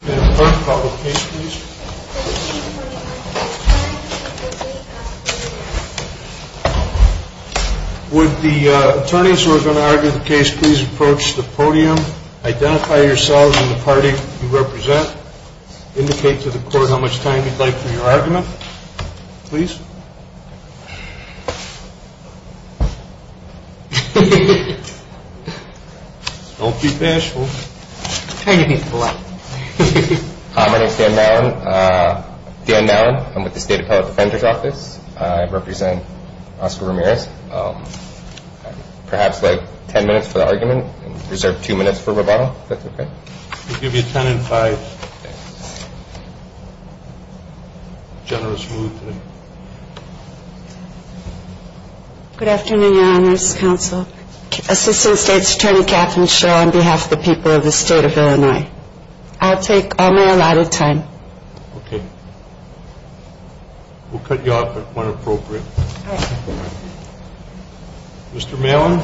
Would the attorneys who are going to argue the case please approach the podium. Identify yourselves and the party you represent. Indicate to the court how much time you'd like for your argument. Please. Don't be bashful. Hi, my name is Dan Mallon. I'm with the State Appellate Defender's Office. I represent Oscar Ramirez. Perhaps like ten minutes for the argument and reserve two minutes for rebuttal if that's okay. We'll give you ten and five. Generous mood today. Good afternoon, Your Honors Counsel. Assistant State's Attorney, Katherine Shaw, on behalf of the people of the State of Illinois. I'll take only allotted time. Okay. We'll cut you off at when appropriate. Mr. Mallon.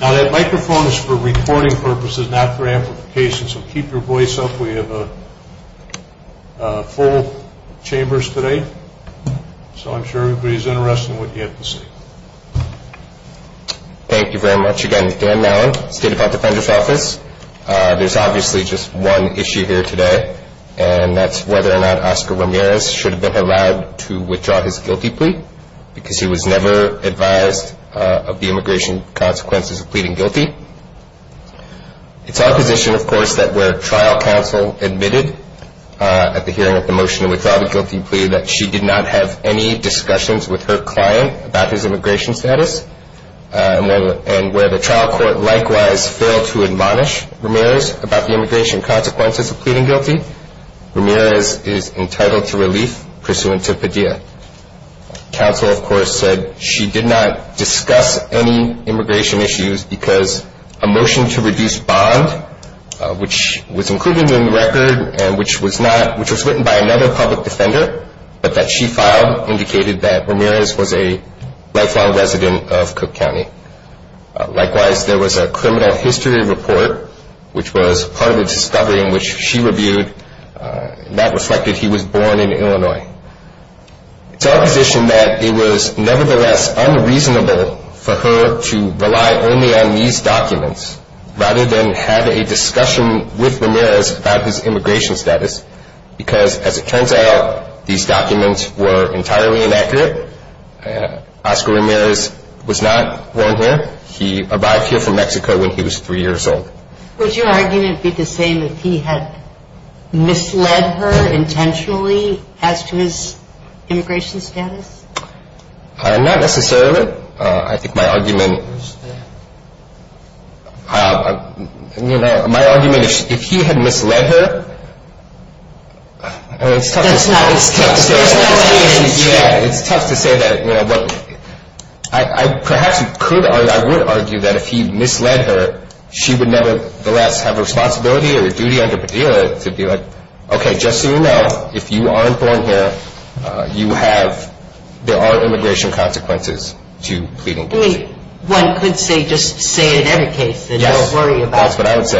Now that microphone is for recording purposes, not for amplification, so keep your voice up. We have full chambers today. So I'm sure everybody's interested in what you have to say. Thank you very much. Again, Dan Mallon, State Appellate Defender's Office. There's obviously just one issue here today, and that's whether or not Oscar Ramirez should have been allowed to withdraw his guilty plea because he was never advised of the immigration consequences of pleading guilty. It's our position, of course, that where trial counsel admitted at the hearing of the motion to withdraw the guilty plea that she did not have any discussions with her client about his immigration status, and where the trial court likewise failed to admonish Ramirez about the immigration consequences of pleading guilty, Ramirez is entitled to relief pursuant to Padilla. Counsel, of course, said she did not discuss any immigration issues because a motion to reduce bond, which was included in the record and which was written by another public defender, but that she filed indicated that Ramirez was a lifelong resident of Cook County. Likewise, there was a criminal history report, which was part of the discovery in which she reviewed, and that reflected he was born in Illinois. It's our position that it was nevertheless unreasonable for her to rely only on these documents rather than have a discussion with Ramirez about his immigration status because, as it turns out, these documents were entirely inaccurate. Oscar Ramirez was not born here. He arrived here from Mexico when he was three years old. Would your argument be the same if he had misled her intentionally as to his immigration status? Not necessarily. I think my argument is that if he had misled her, she would nevertheless have a responsibility or a duty under Padilla to be like, Okay, just so you know, if you aren't born here, there are immigration consequences to pleading guilty. One could say just say it in every case and not worry about it. Yes, that's what I would say.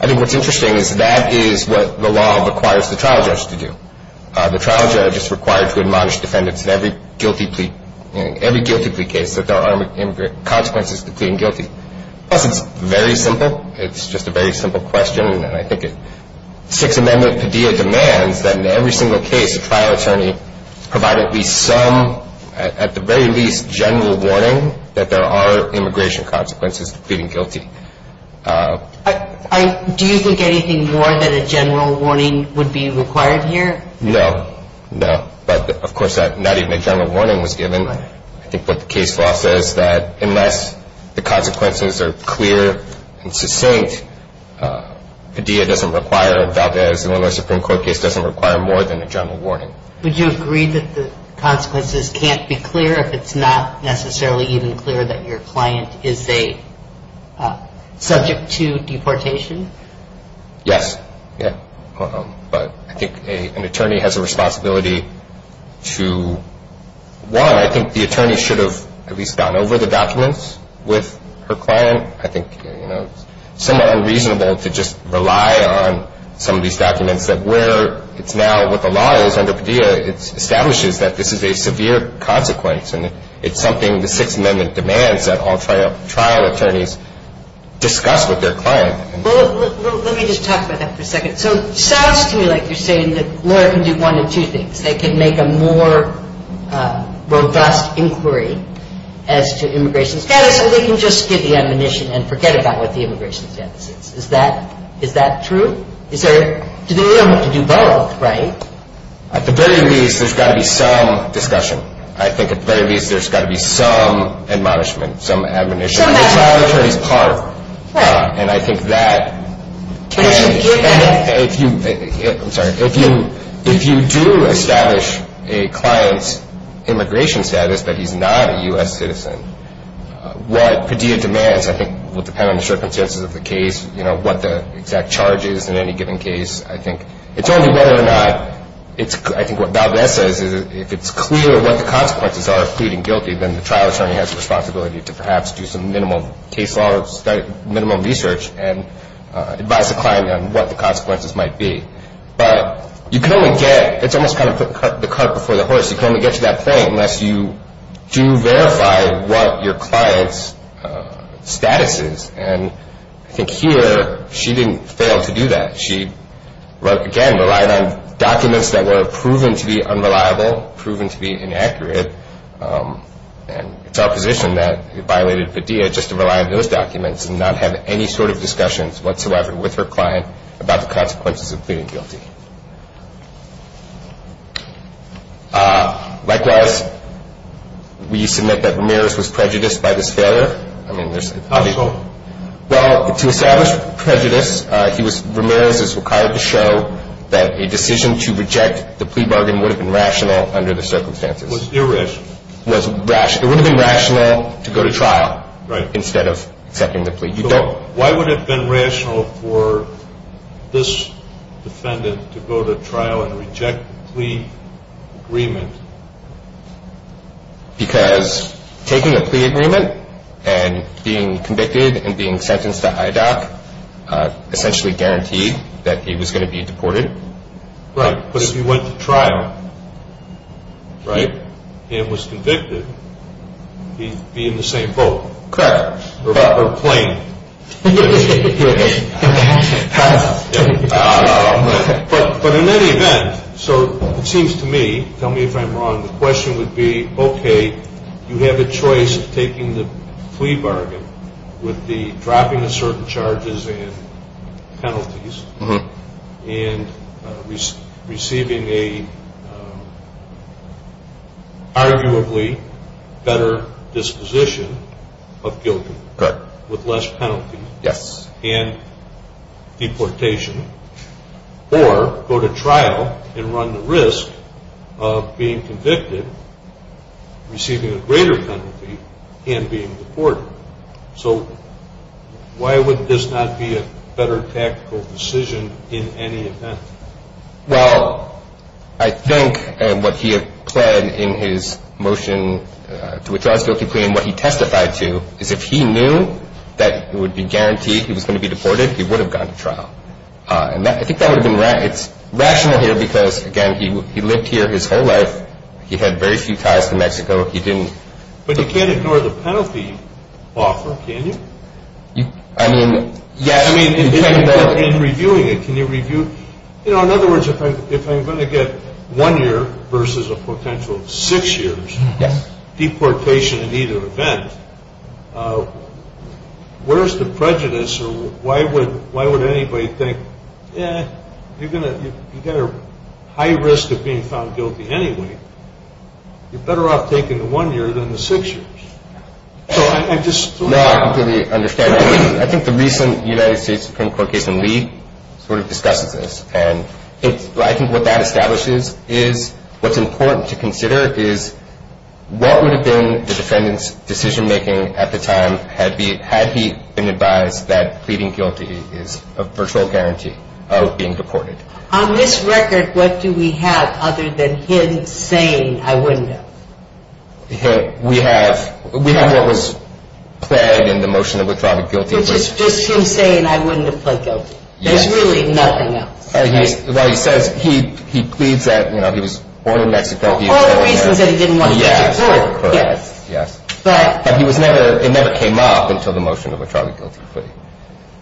I think what's interesting is that is what the law requires the trial judge to do. The trial judge is required to admonish defendants in every guilty plea case that there are consequences to pleading guilty. Plus, it's very simple. It's just a very simple question. I think Sixth Amendment Padilla demands that in every single case, the trial attorney provide at least some, at the very least, general warning that there are immigration consequences to pleading guilty. Do you think anything more than a general warning would be required here? No, no. But of course, not even a general warning was given. I think what the case law says that unless the consequences are clear and succinct, Padilla doesn't require, Valdez, Illinois Supreme Court case doesn't require more than a general warning. Would you agree that the consequences can't be clear if it's not necessarily even clear that your client is a subject to deportation? Yes. But I think an attorney has a responsibility to, one, I think the attorney should have at least gone over the documents with her client. I think it's somewhat unreasonable to just rely on some of these documents that where it's now what the law is under Padilla, it establishes that this is a severe consequence. It's something the Sixth Amendment demands that all trial attorneys discuss with their client. Well, let me just talk about that for a second. So it sounds to me like you're saying that a lawyer can do one of two things. They can make a more robust inquiry as to immigration status, or they can just skip the admonition and forget about what the immigration status is. Is that true? Is there a need to do both, right? At the very least, there's got to be some discussion. I think at the very least, there's got to be some admonishment, some admonition. I think the trial attorney's part, and I think that if you do establish a client's immigration status that he's not a U.S. citizen, what Padilla demands I think will depend on the circumstances of the case, what the exact charge is in any given case. I think it's only whether or not it's – I think what Valdez says is if it's clear what the consequences are of pleading guilty, then the trial attorney has the responsibility to perhaps do some minimum case law, minimum research, and advise the client on what the consequences might be. But you can only get – it's almost kind of the cart before the horse. You can only get to that point unless you do verify what your client's status is. And I think here, she didn't fail to do that. She, again, relied on documents that were proven to be unreliable, proven to be inaccurate, and it's our position that it violated Padilla just to rely on those documents and not have any sort of discussions whatsoever with her client about the consequences of pleading guilty. Likewise, we submit that Ramirez was prejudiced by this failure. How so? Well, to establish prejudice, Ramirez is required to show that a decision to reject the plea bargain would have been rational under the circumstances. It was irrational. It would have been rational to go to trial instead of accepting the plea. Why would it have been rational for this defendant to go to trial and reject the plea agreement? Because taking a plea agreement and being convicted and being sentenced to IDOC essentially guaranteed that he was going to be deported. Right. But if he went to trial, right, and was convicted, he'd be in the same boat. Correct. Or plane. But in any event, so it seems to me, tell me if I'm wrong, the question would be, okay, you have a choice of taking the plea bargain with the dropping of certain charges and penalties and receiving an arguably better disposition of guilt with less penalty and deportation, or go to trial and run the risk of being convicted, receiving a greater penalty, and being deported. So why would this not be a better tactical decision in any event? Well, I think what he had pled in his motion to withdraw his guilty plea and what he testified to is if he knew that it would be guaranteed he was going to be deported, he would have gone to trial. And I think that would have been rational here because, again, he lived here his whole life. He had very few ties to Mexico. But you can't ignore the penalty offer, can you? I mean, yes. In reviewing it, can you review, you know, in other words, if I'm going to get one year versus a potential six years deportation in either event, where's the prejudice or why would anybody think, eh, you've got a high risk of being found guilty anyway. You're better off taking the one year than the six years. So I'm just sort of... No, I completely understand. I think the recent United States Supreme Court case in Lee sort of discusses this, and I think what that establishes is what's important to consider is what would have been the defendant's decision making at the time had he been advised that pleading guilty is a virtual guarantee of being deported. On this record, what do we have other than him saying, I wouldn't have? We have what was pled in the motion of a trial of guilty. Which is just him saying, I wouldn't have pled guilty. Yes. There's really nothing else. Well, he says, he pleads that, you know, he was born in Mexico. All the reasons that he didn't want to go to court. Yes, yes. But... But he was never, it never came up until the motion of a trial of guilty plea.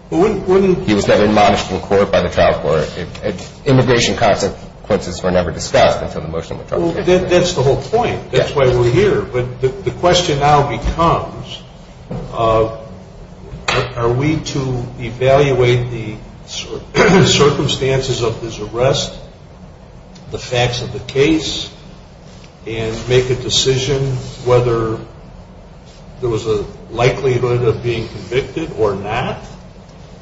Well, wouldn't... He was never admonished from court by the trial court. Immigration consequences were never discussed until the motion of a trial. Well, that's the whole point. Yes. That's why we're here. But the question now becomes are we to evaluate the circumstances of this arrest, the facts of the case, and make a decision whether there was a likelihood of being convicted or not?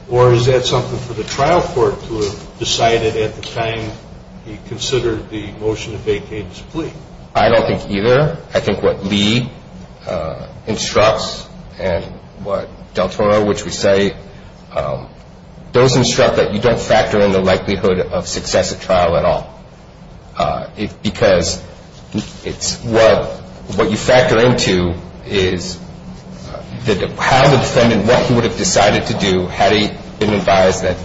Or is that something for the trial court to have decided at the time he considered the motion of vacated plea? I don't think either. I think what Lee instructs and what Del Toro, which we cite, those instruct that you don't factor in the likelihood of success at trial at all. Because what you factor into is how the defendant, what he would have decided to do had he been advised that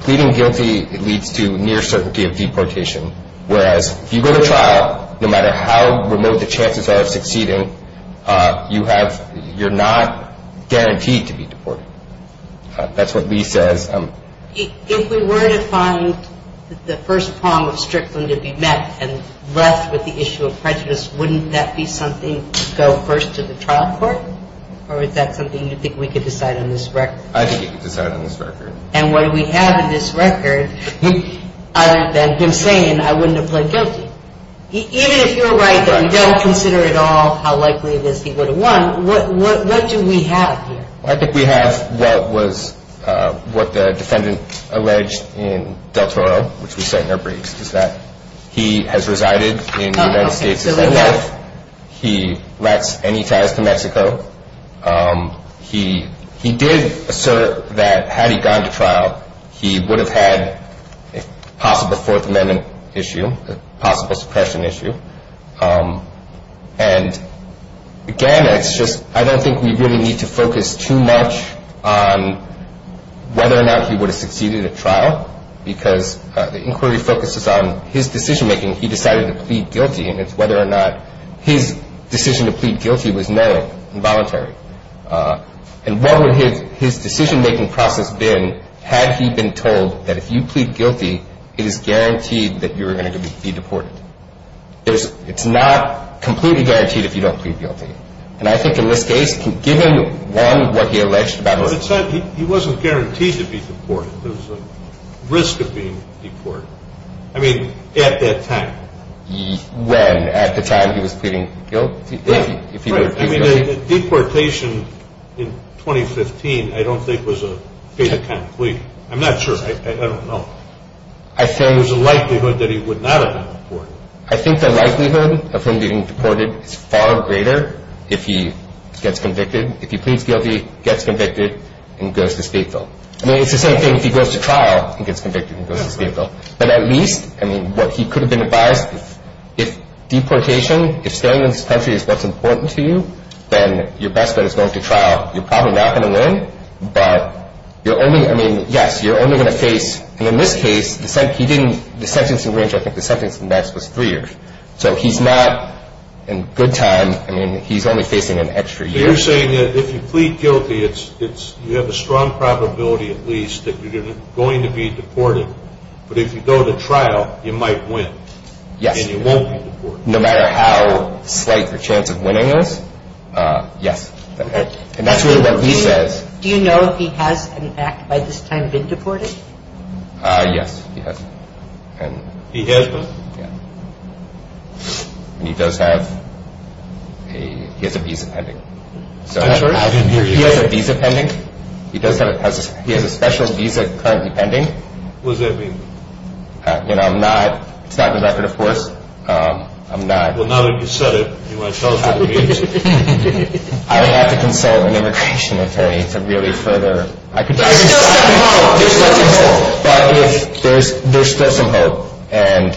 pleading guilty leads to near certainty of deportation, whereas if you go to trial, no matter how remote the chances are of succeeding, you're not guaranteed to be deported. That's what Lee says. If we were to find the first prong of Strickland to be met and left with the issue of prejudice, wouldn't that be something to go first to the trial court? Or is that something you think we could decide on this record? I think you could decide on this record. And what do we have in this record other than him saying I wouldn't have pled guilty? Even if you're right that we don't consider at all how likely it is he would have won, what do we have here? I think we have what the defendant alleged in Del Toro, which we cite in our briefs, is that he has resided in the United States his entire life. He lacks any ties to Mexico. He did assert that had he gone to trial, he would have had a possible Fourth Amendment issue, a possible suppression issue. And, again, it's just I don't think we really need to focus too much on whether or not he would have succeeded at trial because the inquiry focuses on his decision-making. He decided to plead guilty, and it's whether or not his decision to plead guilty was narrow and voluntary. And what would his decision-making process been had he been told that if you plead guilty, it is guaranteed that you are going to be deported? It's not completely guaranteed if you don't plead guilty. And I think in this case, given, one, what he alleged about himself. He wasn't guaranteed to be deported. There was a risk of being deported. I mean, at that time. When? At the time he was pleading guilty? Right. I mean, the deportation in 2015 I don't think was a fait accompli. I'm not sure. I don't know. There was a likelihood that he would not have been deported. I think the likelihood of him being deported is far greater if he gets convicted. If he pleads guilty, gets convicted, and goes to state bill. I mean, it's the same thing if he goes to trial and gets convicted and goes to state bill. But at least, I mean, what he could have been advised, if deportation, if staying in this country is what's important to you, then your best bet is going to trial. You're probably not going to win. But you're only, I mean, yes, you're only going to face, and in this case, he didn't, the sentencing range, I think the sentencing max was three years. So he's not in good time. I mean, he's only facing an extra year. You're saying that if you plead guilty, it's, you have a strong probability at least that you're going to be deported. But if you go to trial, you might win. Yes. And you won't be deported. No matter how slight your chance of winning is? Yes. And that's really what he says. Do you know if he has, in fact, by this time, been deported? Yes, he has. He has been? Yes. And he does have a, he has a visa pending. I'm sorry? He has a visa pending. He does have a, he has a special visa currently pending. What does that mean? You know, I'm not, it's not in the record, of course. I'm not. Well, now that you've said it, you want to tell us what it means? I would have to consult an immigration attorney to really further. There's still some hope. There's still some hope. But if there's, there's still some hope. And,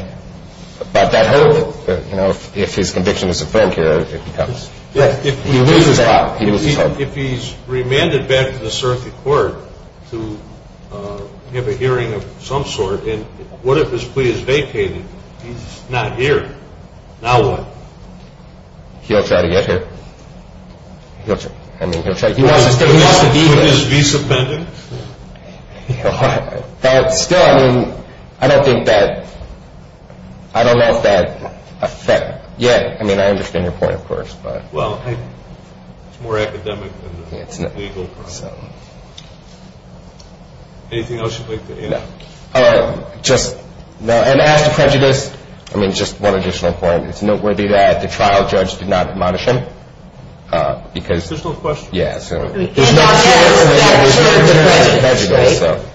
but that hope, you know, if his conviction is a failure, it becomes. He loses hope. He loses hope. If he's remanded back to the circuit court to have a hearing of some sort, and what if his plea is vacated? He's not here. Now what? He'll try to get here. He'll try. I mean, he'll try. He wants to stay. He wants to be there. Would his visa pending? That's still, I mean, I don't think that, I don't know if that effect yet. I mean, I understand your point, of course, but. Well, it's more academic than legal. Yeah, it's not. So. Anything else you'd like to add? No. Just, no. And as to prejudice, I mean, just one additional point. It's noteworthy that the trial judge did not admonish him, because. Additional question? Yeah, so. He's not here. He's not here for prejudice, right?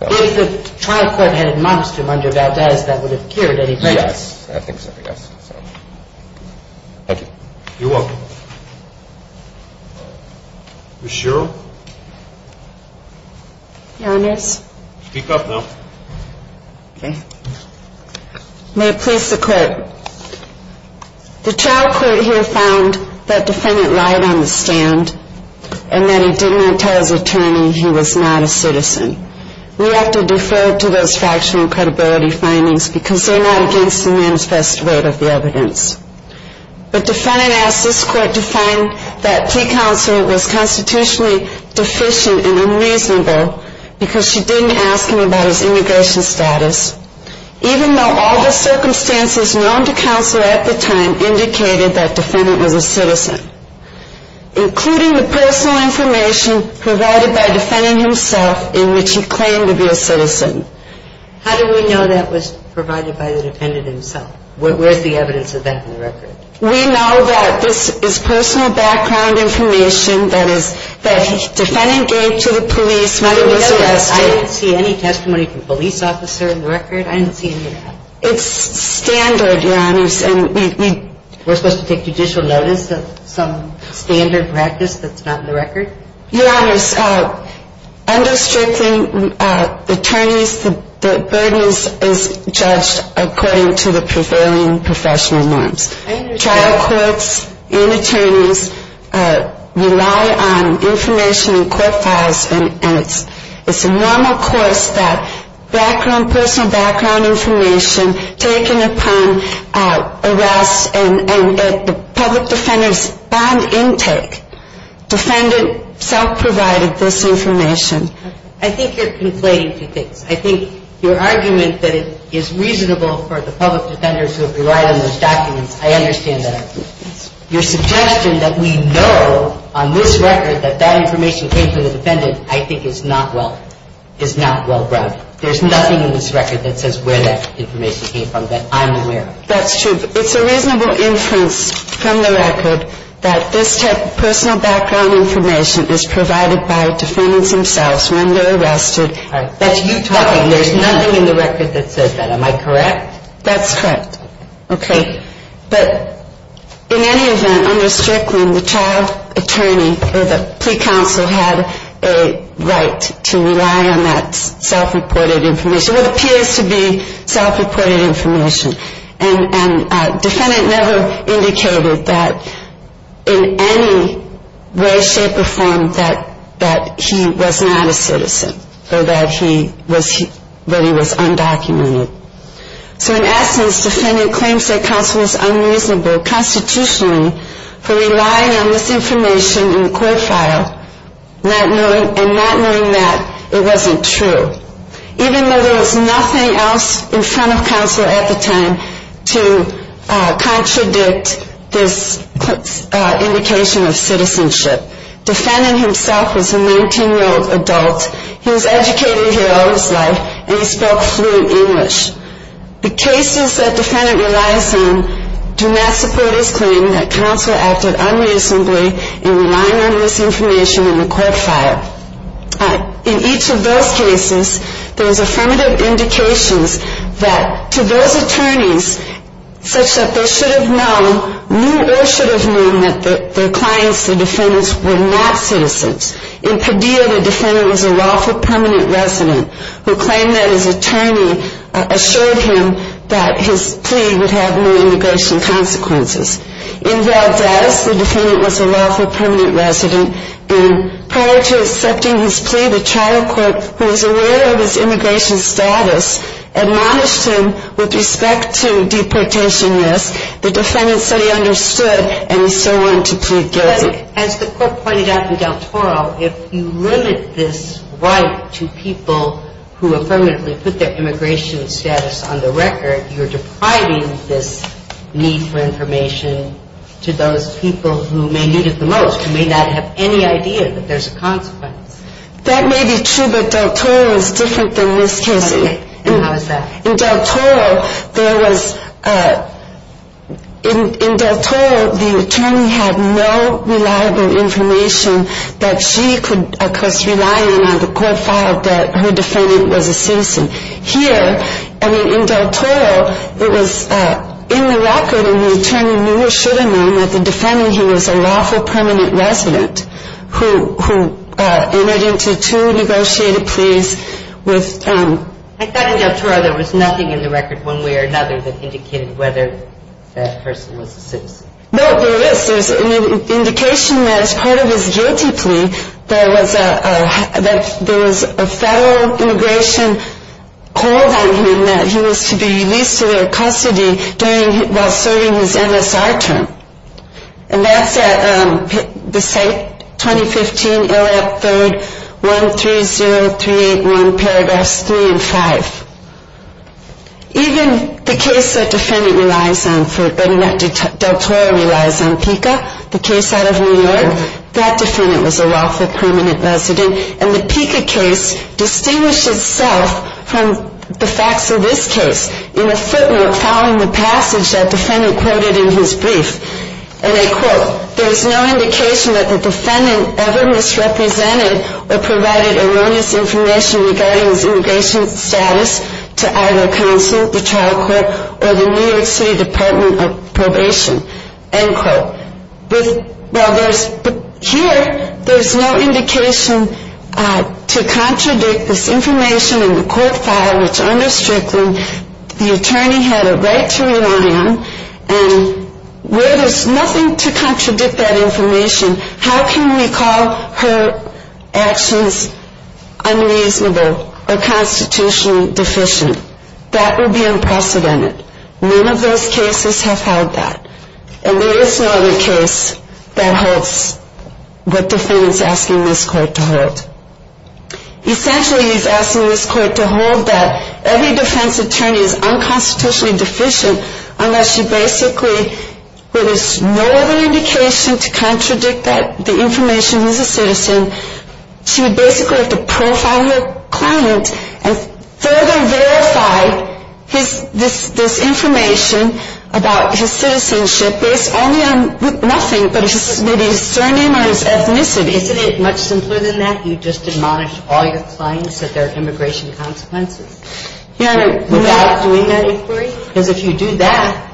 If the trial court had admonished him under Valdez, that would have cured any prejudice. Yes, I think so, yes. Thank you. You're welcome. Ms. Sherrill? Your Honors. Speak up now. Okay. May it please the Court. The trial court here found that defendant lied on the stand, and that he didn't tell his attorney he was not a citizen. We have to defer to those fractional credibility findings, because they're not against the man's best rate of the evidence. But defendant asked this court to find that pre-counsel was constitutionally deficient and unreasonable, because she didn't ask him about his immigration status, even though all the circumstances known to counsel at the time indicated that defendant was a citizen, including the personal information provided by defendant himself in which he claimed to be a citizen. How do we know that was provided by the defendant himself? Where's the evidence of that in the record? We know that this is personal background information that defendant gave to the police when he was arrested. I didn't see any testimony from a police officer in the record. I didn't see any of that. It's standard, Your Honors. And we're supposed to take judicial notice of some standard practice that's not in the record? Your Honors, under strict attorneys, the burden is judged according to the prevailing professional norms. Trial courts and attorneys rely on information in court files, and it's a normal course that personal background information taken upon arrest and the public defender's bond intake, defendant self-provided this information. I think you're conflating two things. I think your argument that it is reasonable for the public defenders who have relied on those documents, I understand that argument. Your suggestion that we know on this record that that information came from the defendant, I think is not well, is not well-grounded. There's nothing in this record that says where that information came from that I'm aware of. That's true. It's a reasonable inference from the record that this type of personal background information is provided by defendants themselves when they're arrested. That's you talking. There's nothing in the record that says that. Am I correct? That's correct. Okay. But in any event, under Strickland, the child attorney or the plea counsel had a right to rely on that self-reported information, what appears to be self-reported information. And defendant never indicated that in any way, shape, or form that he was not a citizen or that he was undocumented. So in essence, defendant claims that counsel is unreasonable constitutionally for relying on this information in court file and not knowing that it wasn't true. Even though there was nothing else in front of counsel at the time to contradict this indication of citizenship. Defendant himself was a 19-year-old adult. He was educated here all his life, and he spoke fluent English. The cases that defendant relies on do not support his claim that counsel acted unreasonably in relying on this information in the court file. In each of those cases, there was affirmative indications that to those attorneys such that they should have known, knew or should have known that their clients, the defendants, were not citizens. In Padilla, the defendant was a lawful permanent resident who claimed that his attorney assured him that his plea would have no immigration consequences. In Valdez, the defendant was a lawful permanent resident, and prior to accepting his plea, the trial court, who was aware of his immigration status, admonished him with respect to deportation risk. The defendant said he understood, and he still wanted to plead guilty. As the court pointed out in Del Toro, if you limit this right to people who affirmatively put their immigration status on the record, you're depriving this need for information to those people who may need it the most, who may not have any idea that there's a consequence. That may be true, but Del Toro is different than this case. And how is that? In Del Toro, there was, in Del Toro, the attorney had no reliable information that she could, because relying on the court file, that her defendant was a citizen. Here, I mean, in Del Toro, it was in the record, and the attorney knew or should have known that the defendant, he was a lawful permanent resident who entered into two negotiated pleas with... I thought in Del Toro there was nothing in the record, one way or another, that indicated whether that person was a citizen. No, there is. There's an indication that as part of his guilty plea, that there was a federal immigration hold on him, that he was to be released to their custody while serving his MSR term. And that's at the site 2015, ILLIOP 3rd, 130381, paragraphs 3 and 5. Even the case that Del Toro relies on, PICA, the case out of New York, that defendant was a lawful permanent resident. And the PICA case distinguished itself from the facts of this case in a footnote following the passage that the defendant quoted in his brief. And they quote, There's no indication that the defendant ever misrepresented or provided erroneous information regarding his immigration status to either counsel, the trial court, or the New York City Department of Probation, end quote. But here, there's no indication to contradict this information in the court file, which under Strickland, the attorney had a right to rely on, and where there's nothing to contradict that information, how can we call her actions unreasonable or constitutionally deficient? That would be unprecedented. None of those cases have held that. And there is no other case that holds what the defendant's asking this court to hold. Essentially, he's asking this court to hold that every defense attorney is unconstitutionally deficient unless she basically, where there's no other indication to contradict that, the information, he's a citizen, she would basically have to profile her client and further verify this information about his citizenship based only on nothing but maybe his surname or his ethnicity. And isn't it much simpler than that? You just admonish all your clients that there are immigration consequences without doing that inquiry? Because if you do that,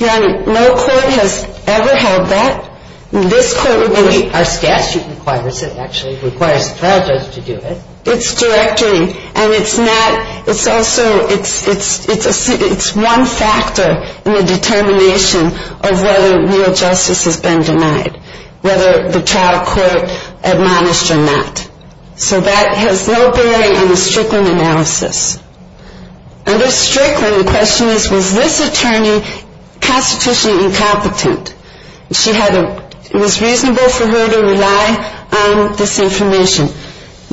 no court has ever held that. This court would be, our statute requires it actually, requires the trial judge to do it. It's directory. And it's not, it's also, it's one factor in the determination of whether real justice has been denied, whether the trial court admonished or not. So that has no bearing on the Strickland analysis. Under Strickland, the question is, was this attorney constitutionally incompetent? She had a, it was reasonable for her to rely on this information.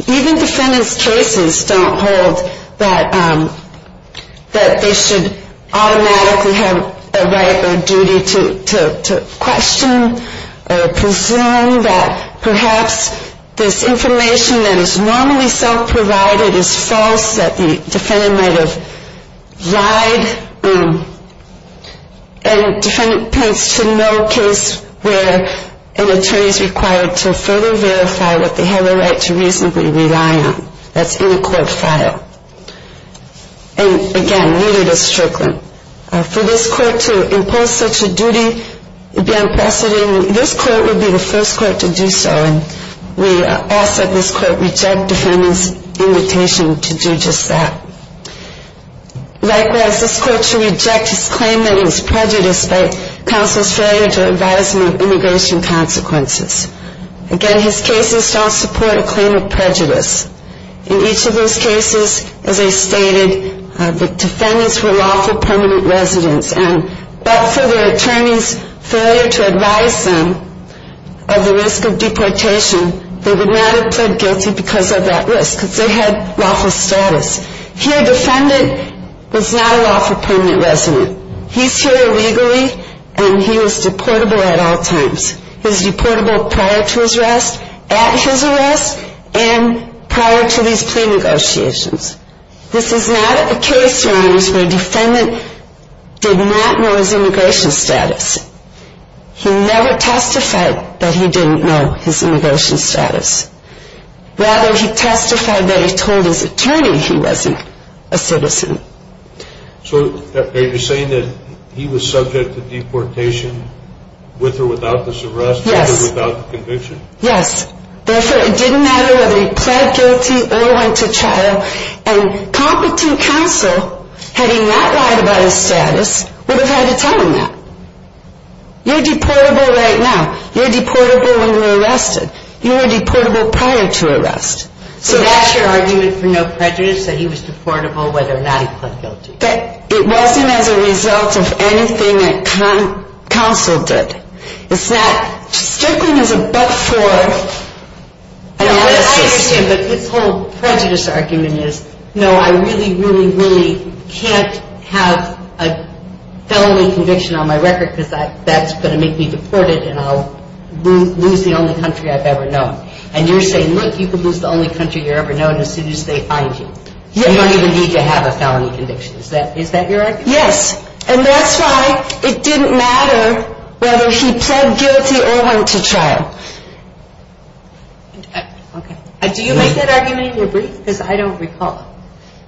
Even defendants' cases don't hold that they should automatically have a right or duty to question or presume that perhaps this information that is normally self-provided is false, that the defendant might have lied. And defendant points to no case where an attorney is required to further verify that they have a right to reasonably rely on. That's in a court file. And again, neither does Strickland. For this court to impose such a duty beyond precedent, this court would be the first court to do so. And we ask that this court reject defendant's invitation to do just that. Likewise, this court should reject his claim that he was prejudiced by counsel's failure to advise him of immigration consequences. Again, his cases don't support a claim of prejudice. In each of those cases, as I stated, the defendants were lawful permanent residents. And but for the attorney's failure to advise them of the risk of deportation, they would not have pled guilty because of that risk, because they had lawful status. Here, defendant was not a lawful permanent resident. He's here illegally, and he was deportable at all times. He was deportable prior to his arrest, at his arrest, and prior to these plea negotiations. This is not a case, Your Honors, where defendant did not know his immigration status. He never testified that he didn't know his immigration status. Rather, he testified that he told his attorney he wasn't a citizen. So are you saying that he was subject to deportation with or without this arrest? Yes. With or without the conviction? Yes. Therefore, it didn't matter whether he pled guilty or went to trial. And competent counsel, having not lied about his status, would have had to tell him that. You're deportable right now. You're deportable when you're arrested. You were deportable prior to arrest. So that's your argument for no prejudice, that he was deportable whether or not he pled guilty? It wasn't as a result of anything that counsel did. It's not strictly as a but-for analysis. I understand, but his whole prejudice argument is, no, I really, really, really can't have a felony conviction on my record because that's going to make me deported and I'll lose the only country I've ever known. And you're saying, look, you can lose the only country you've ever known as soon as they find you. You don't even need to have a felony conviction. Is that your argument? Yes. And that's why it didn't matter whether he pled guilty or went to trial. Okay. Do you make that argument in your brief? Because I don't recall.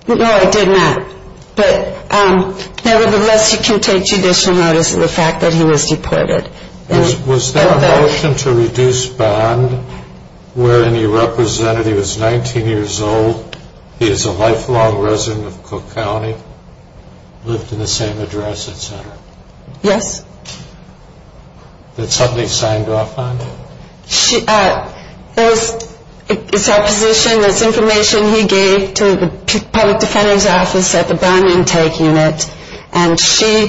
No, I did not. But nevertheless, you can take judicial notice of the fact that he was deported. Was there a motion to reduce bond wherein he represented he was 19 years old, he is a lifelong resident of Cook County, lived in the same address, et cetera? Yes. That's something he signed off on? It's a position that's information he gave to the public defender's office at the bond intake unit. And she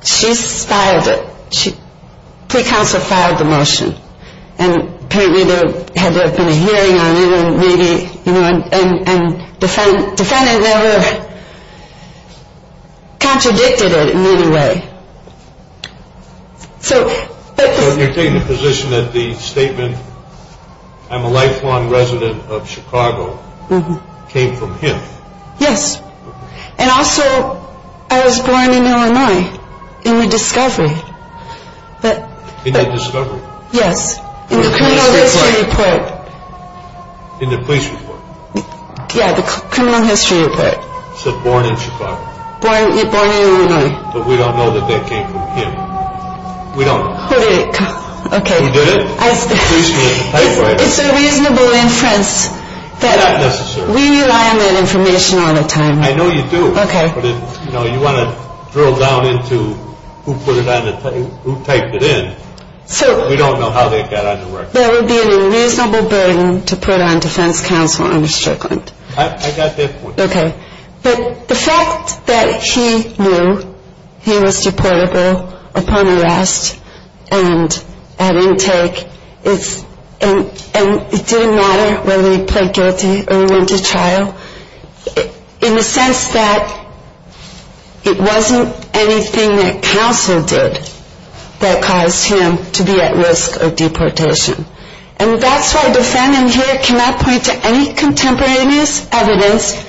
filed it. Pre-counsel filed the motion. And apparently there had been a hearing on it and maybe, you know, So you're taking the position that the statement, I'm a lifelong resident of Chicago, came from him? Yes. And also, I was born in Illinois in the discovery. In the discovery? Yes. In the criminal history report. In the police report? Yeah, the criminal history report. It said born in Chicago. Born in Illinois. But we don't know that that came from him. We don't know. Who did it? Okay. Who did it? It's a reasonable inference. Not necessarily. We rely on that information all the time. I know you do. Okay. But, you know, you want to drill down into who put it on, who typed it in. We don't know how that got on the record. That would be an unreasonable burden to put on defense counsel under Strickland. I got that point. Okay. But the fact that he knew he was deportable upon arrest and at intake, and it didn't matter whether he pled guilty or he went to trial, in the sense that it wasn't anything that counsel did that caused him to be at risk of deportation. And that's why defendant here cannot point to any contemporaneous evidence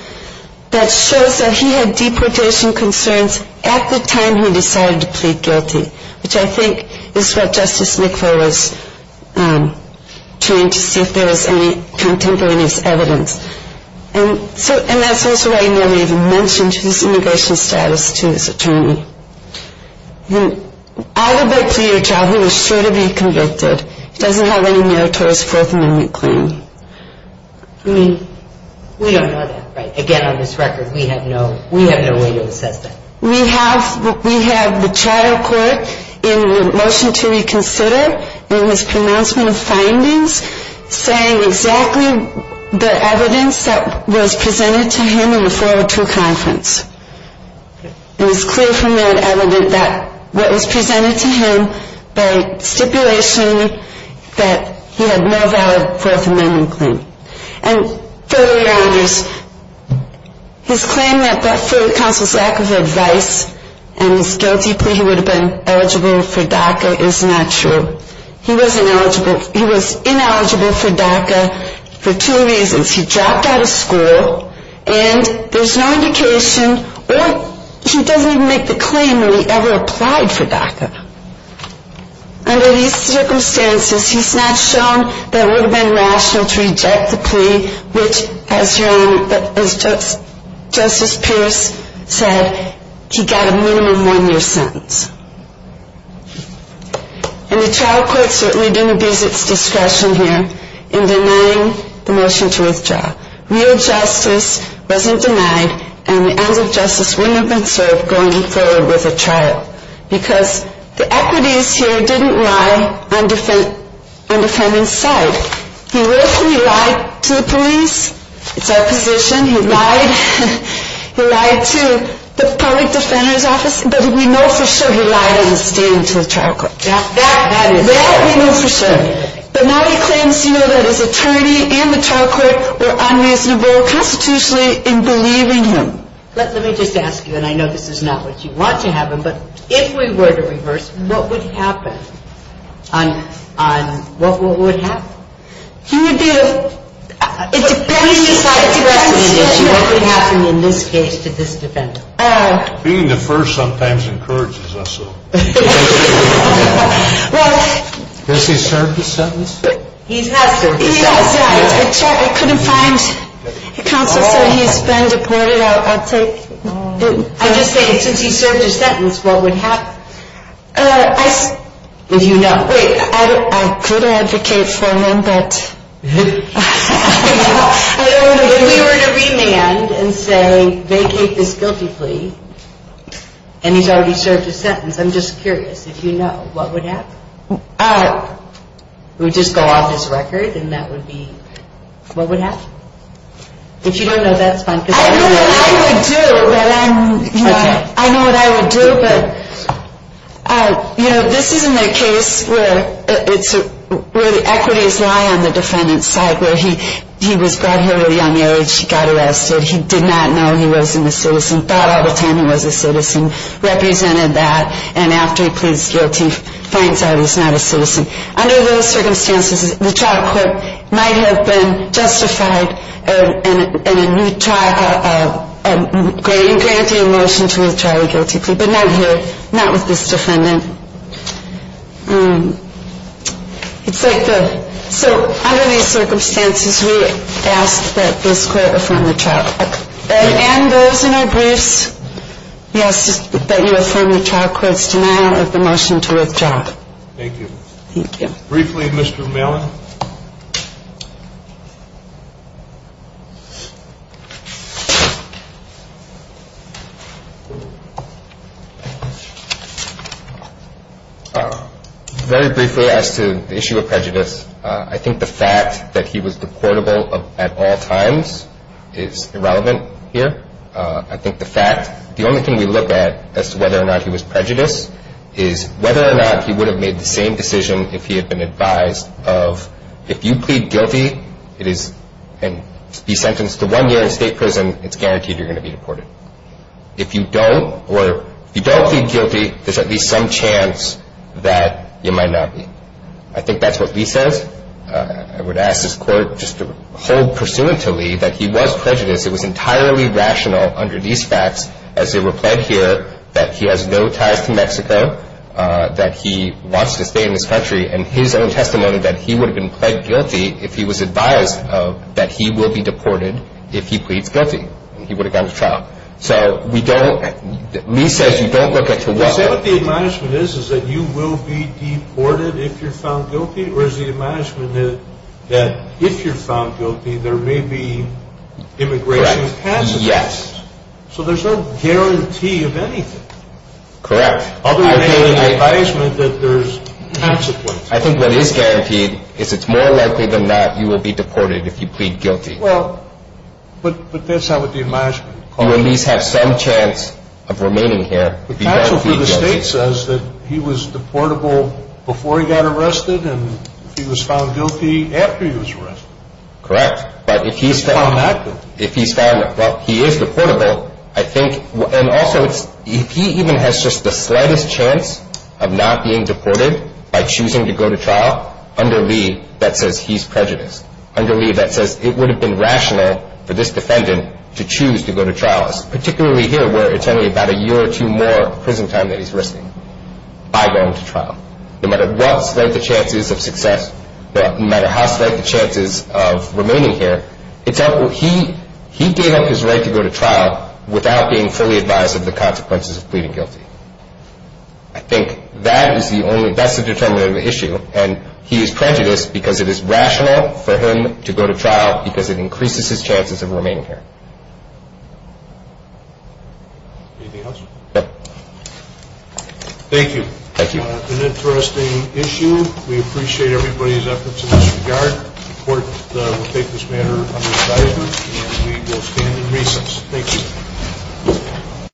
that shows that he had deportation concerns at the time he decided to plead guilty, which I think is what Justice McFarland was trying to see if there was any contemporaneous evidence. And that's also why he never even mentioned his immigration status to his attorney. I would beg for your trial. He was sure to be convicted. He doesn't have any merit to his Fourth Amendment claim. I mean, we don't know that, right? Again, on this record, we have no way to assess that. We have the trial court in the motion to reconsider, in his pronouncement of findings, saying exactly the evidence that was presented to him in the 402 conference. It was clear from that evidence that what was presented to him by stipulation that he had no valid Fourth Amendment claim. And further, Your Honors, his claim that for counsel's lack of advice and his guilty plea he would have been eligible for DACA is not true. He was ineligible for DACA for two reasons. He dropped out of school and there's no indication or he doesn't even make the claim that he ever applied for DACA. Under these circumstances, he's not shown that it would have been rational to reject the plea, which, as Justice Pierce said, he got a minimum one-year sentence. And the trial court certainly didn't abuse its discretion here in denying the motion to withdraw. Real justice wasn't denied and the ends of justice wouldn't have been served going forward with a trial because the equities here didn't lie on defendant's side. He literally lied to the police. It's our position. He lied to the public defender's office, but we know for sure he lied in his stand to the trial court. That we know for sure. But now he claims, you know, that his attorney and the trial court were unreasonable constitutionally in believing him. Let me just ask you, and I know this is not what you want to happen, but if we were to reverse, what would happen? On what would happen? He would be a... It depends. What would happen in this case to this defendant? Being the first sometimes encourages us. Has he served his sentence? He has served his sentence. I couldn't find... Counsel said he's been deported. I'll take... I'm just saying, since he's served his sentence, what would happen? I... Do you know? Wait. I could advocate for him, but... I don't know. If we were to remand and say, vacate this guilty plea, and he's already served his sentence, I'm just curious. If you know, what would happen? He would just go off his record, and that would be... What would happen? If you don't know, that's fine. I know what I would do, but I'm... I know what I would do, but... You know, this isn't a case where it's... Where the equities lie on the defendant's side, where he was brought here at a young age, he got arrested, he did not know he wasn't a citizen, thought all the time he was a citizen, represented that, and after he pleads guilty, finds out he's not a citizen. Under those circumstances, the trial court might have been justified in granting a motion to withdraw a guilty plea, but not here, not with this defendant. It's like the... And those in our briefs, yes, that you affirm the trial court's denial of the motion to withdraw. Thank you. Thank you. Briefly, Mr. Malin. Very briefly as to the issue of prejudice, I think the fact that he was deportable at all times is irrelevant here. I think the fact... The only thing we look at as to whether or not he was prejudiced is whether or not he would have made the same decision if he had been advised of, if you plead guilty and be sentenced to one year in state prison, it's guaranteed you're going to be deported. If you don't plead guilty, there's at least some chance that you might not be. I think that's what Lee says. I would ask this court just to hold pursuant to Lee that he was prejudiced. It was entirely rational under these facts as they were pled here that he has no ties to Mexico, that he wants to stay in this country, and his own testimony that he would have been pled guilty if he was advised that he will be deported if he pleads guilty and he would have gone to trial. So we don't... Lee says you don't look at... Does he say what the admonishment is, is that you will be deported if you're found guilty? Or is the admonishment that if you're found guilty, there may be immigration consequences? Yes. So there's no guarantee of anything. Correct. Other than the advisement that there's consequences. I think what is guaranteed is it's more likely than not you will be deported if you plead guilty. Well, but that's not what the admonishment calls it. You at least have some chance of remaining here. The counsel for the state says that he was deportable before he got arrested and if he was found guilty after he was arrested. Correct. If he's found... If he's found... Well, he is deportable. I think... And also, if he even has just the slightest chance of not being deported by choosing to go to trial, under Lee, that says he's prejudiced. Under Lee, that says it would have been rational for this defendant to choose to go to trial, particularly here where it's only about a year or two more prison time that he's risking by going to trial. No matter what slight the chances of success, no matter how slight the chances of remaining here, he gave up his right to go to trial without being fully advised of the consequences of pleading guilty. I think that is the only... And he is prejudiced because it is rational for him to go to trial because it increases his chances of remaining here. Anything else? No. Thank you. Thank you. An interesting issue. We appreciate everybody's efforts in this regard. The court will take this matter under advisory and we will stand in recess. Thank you.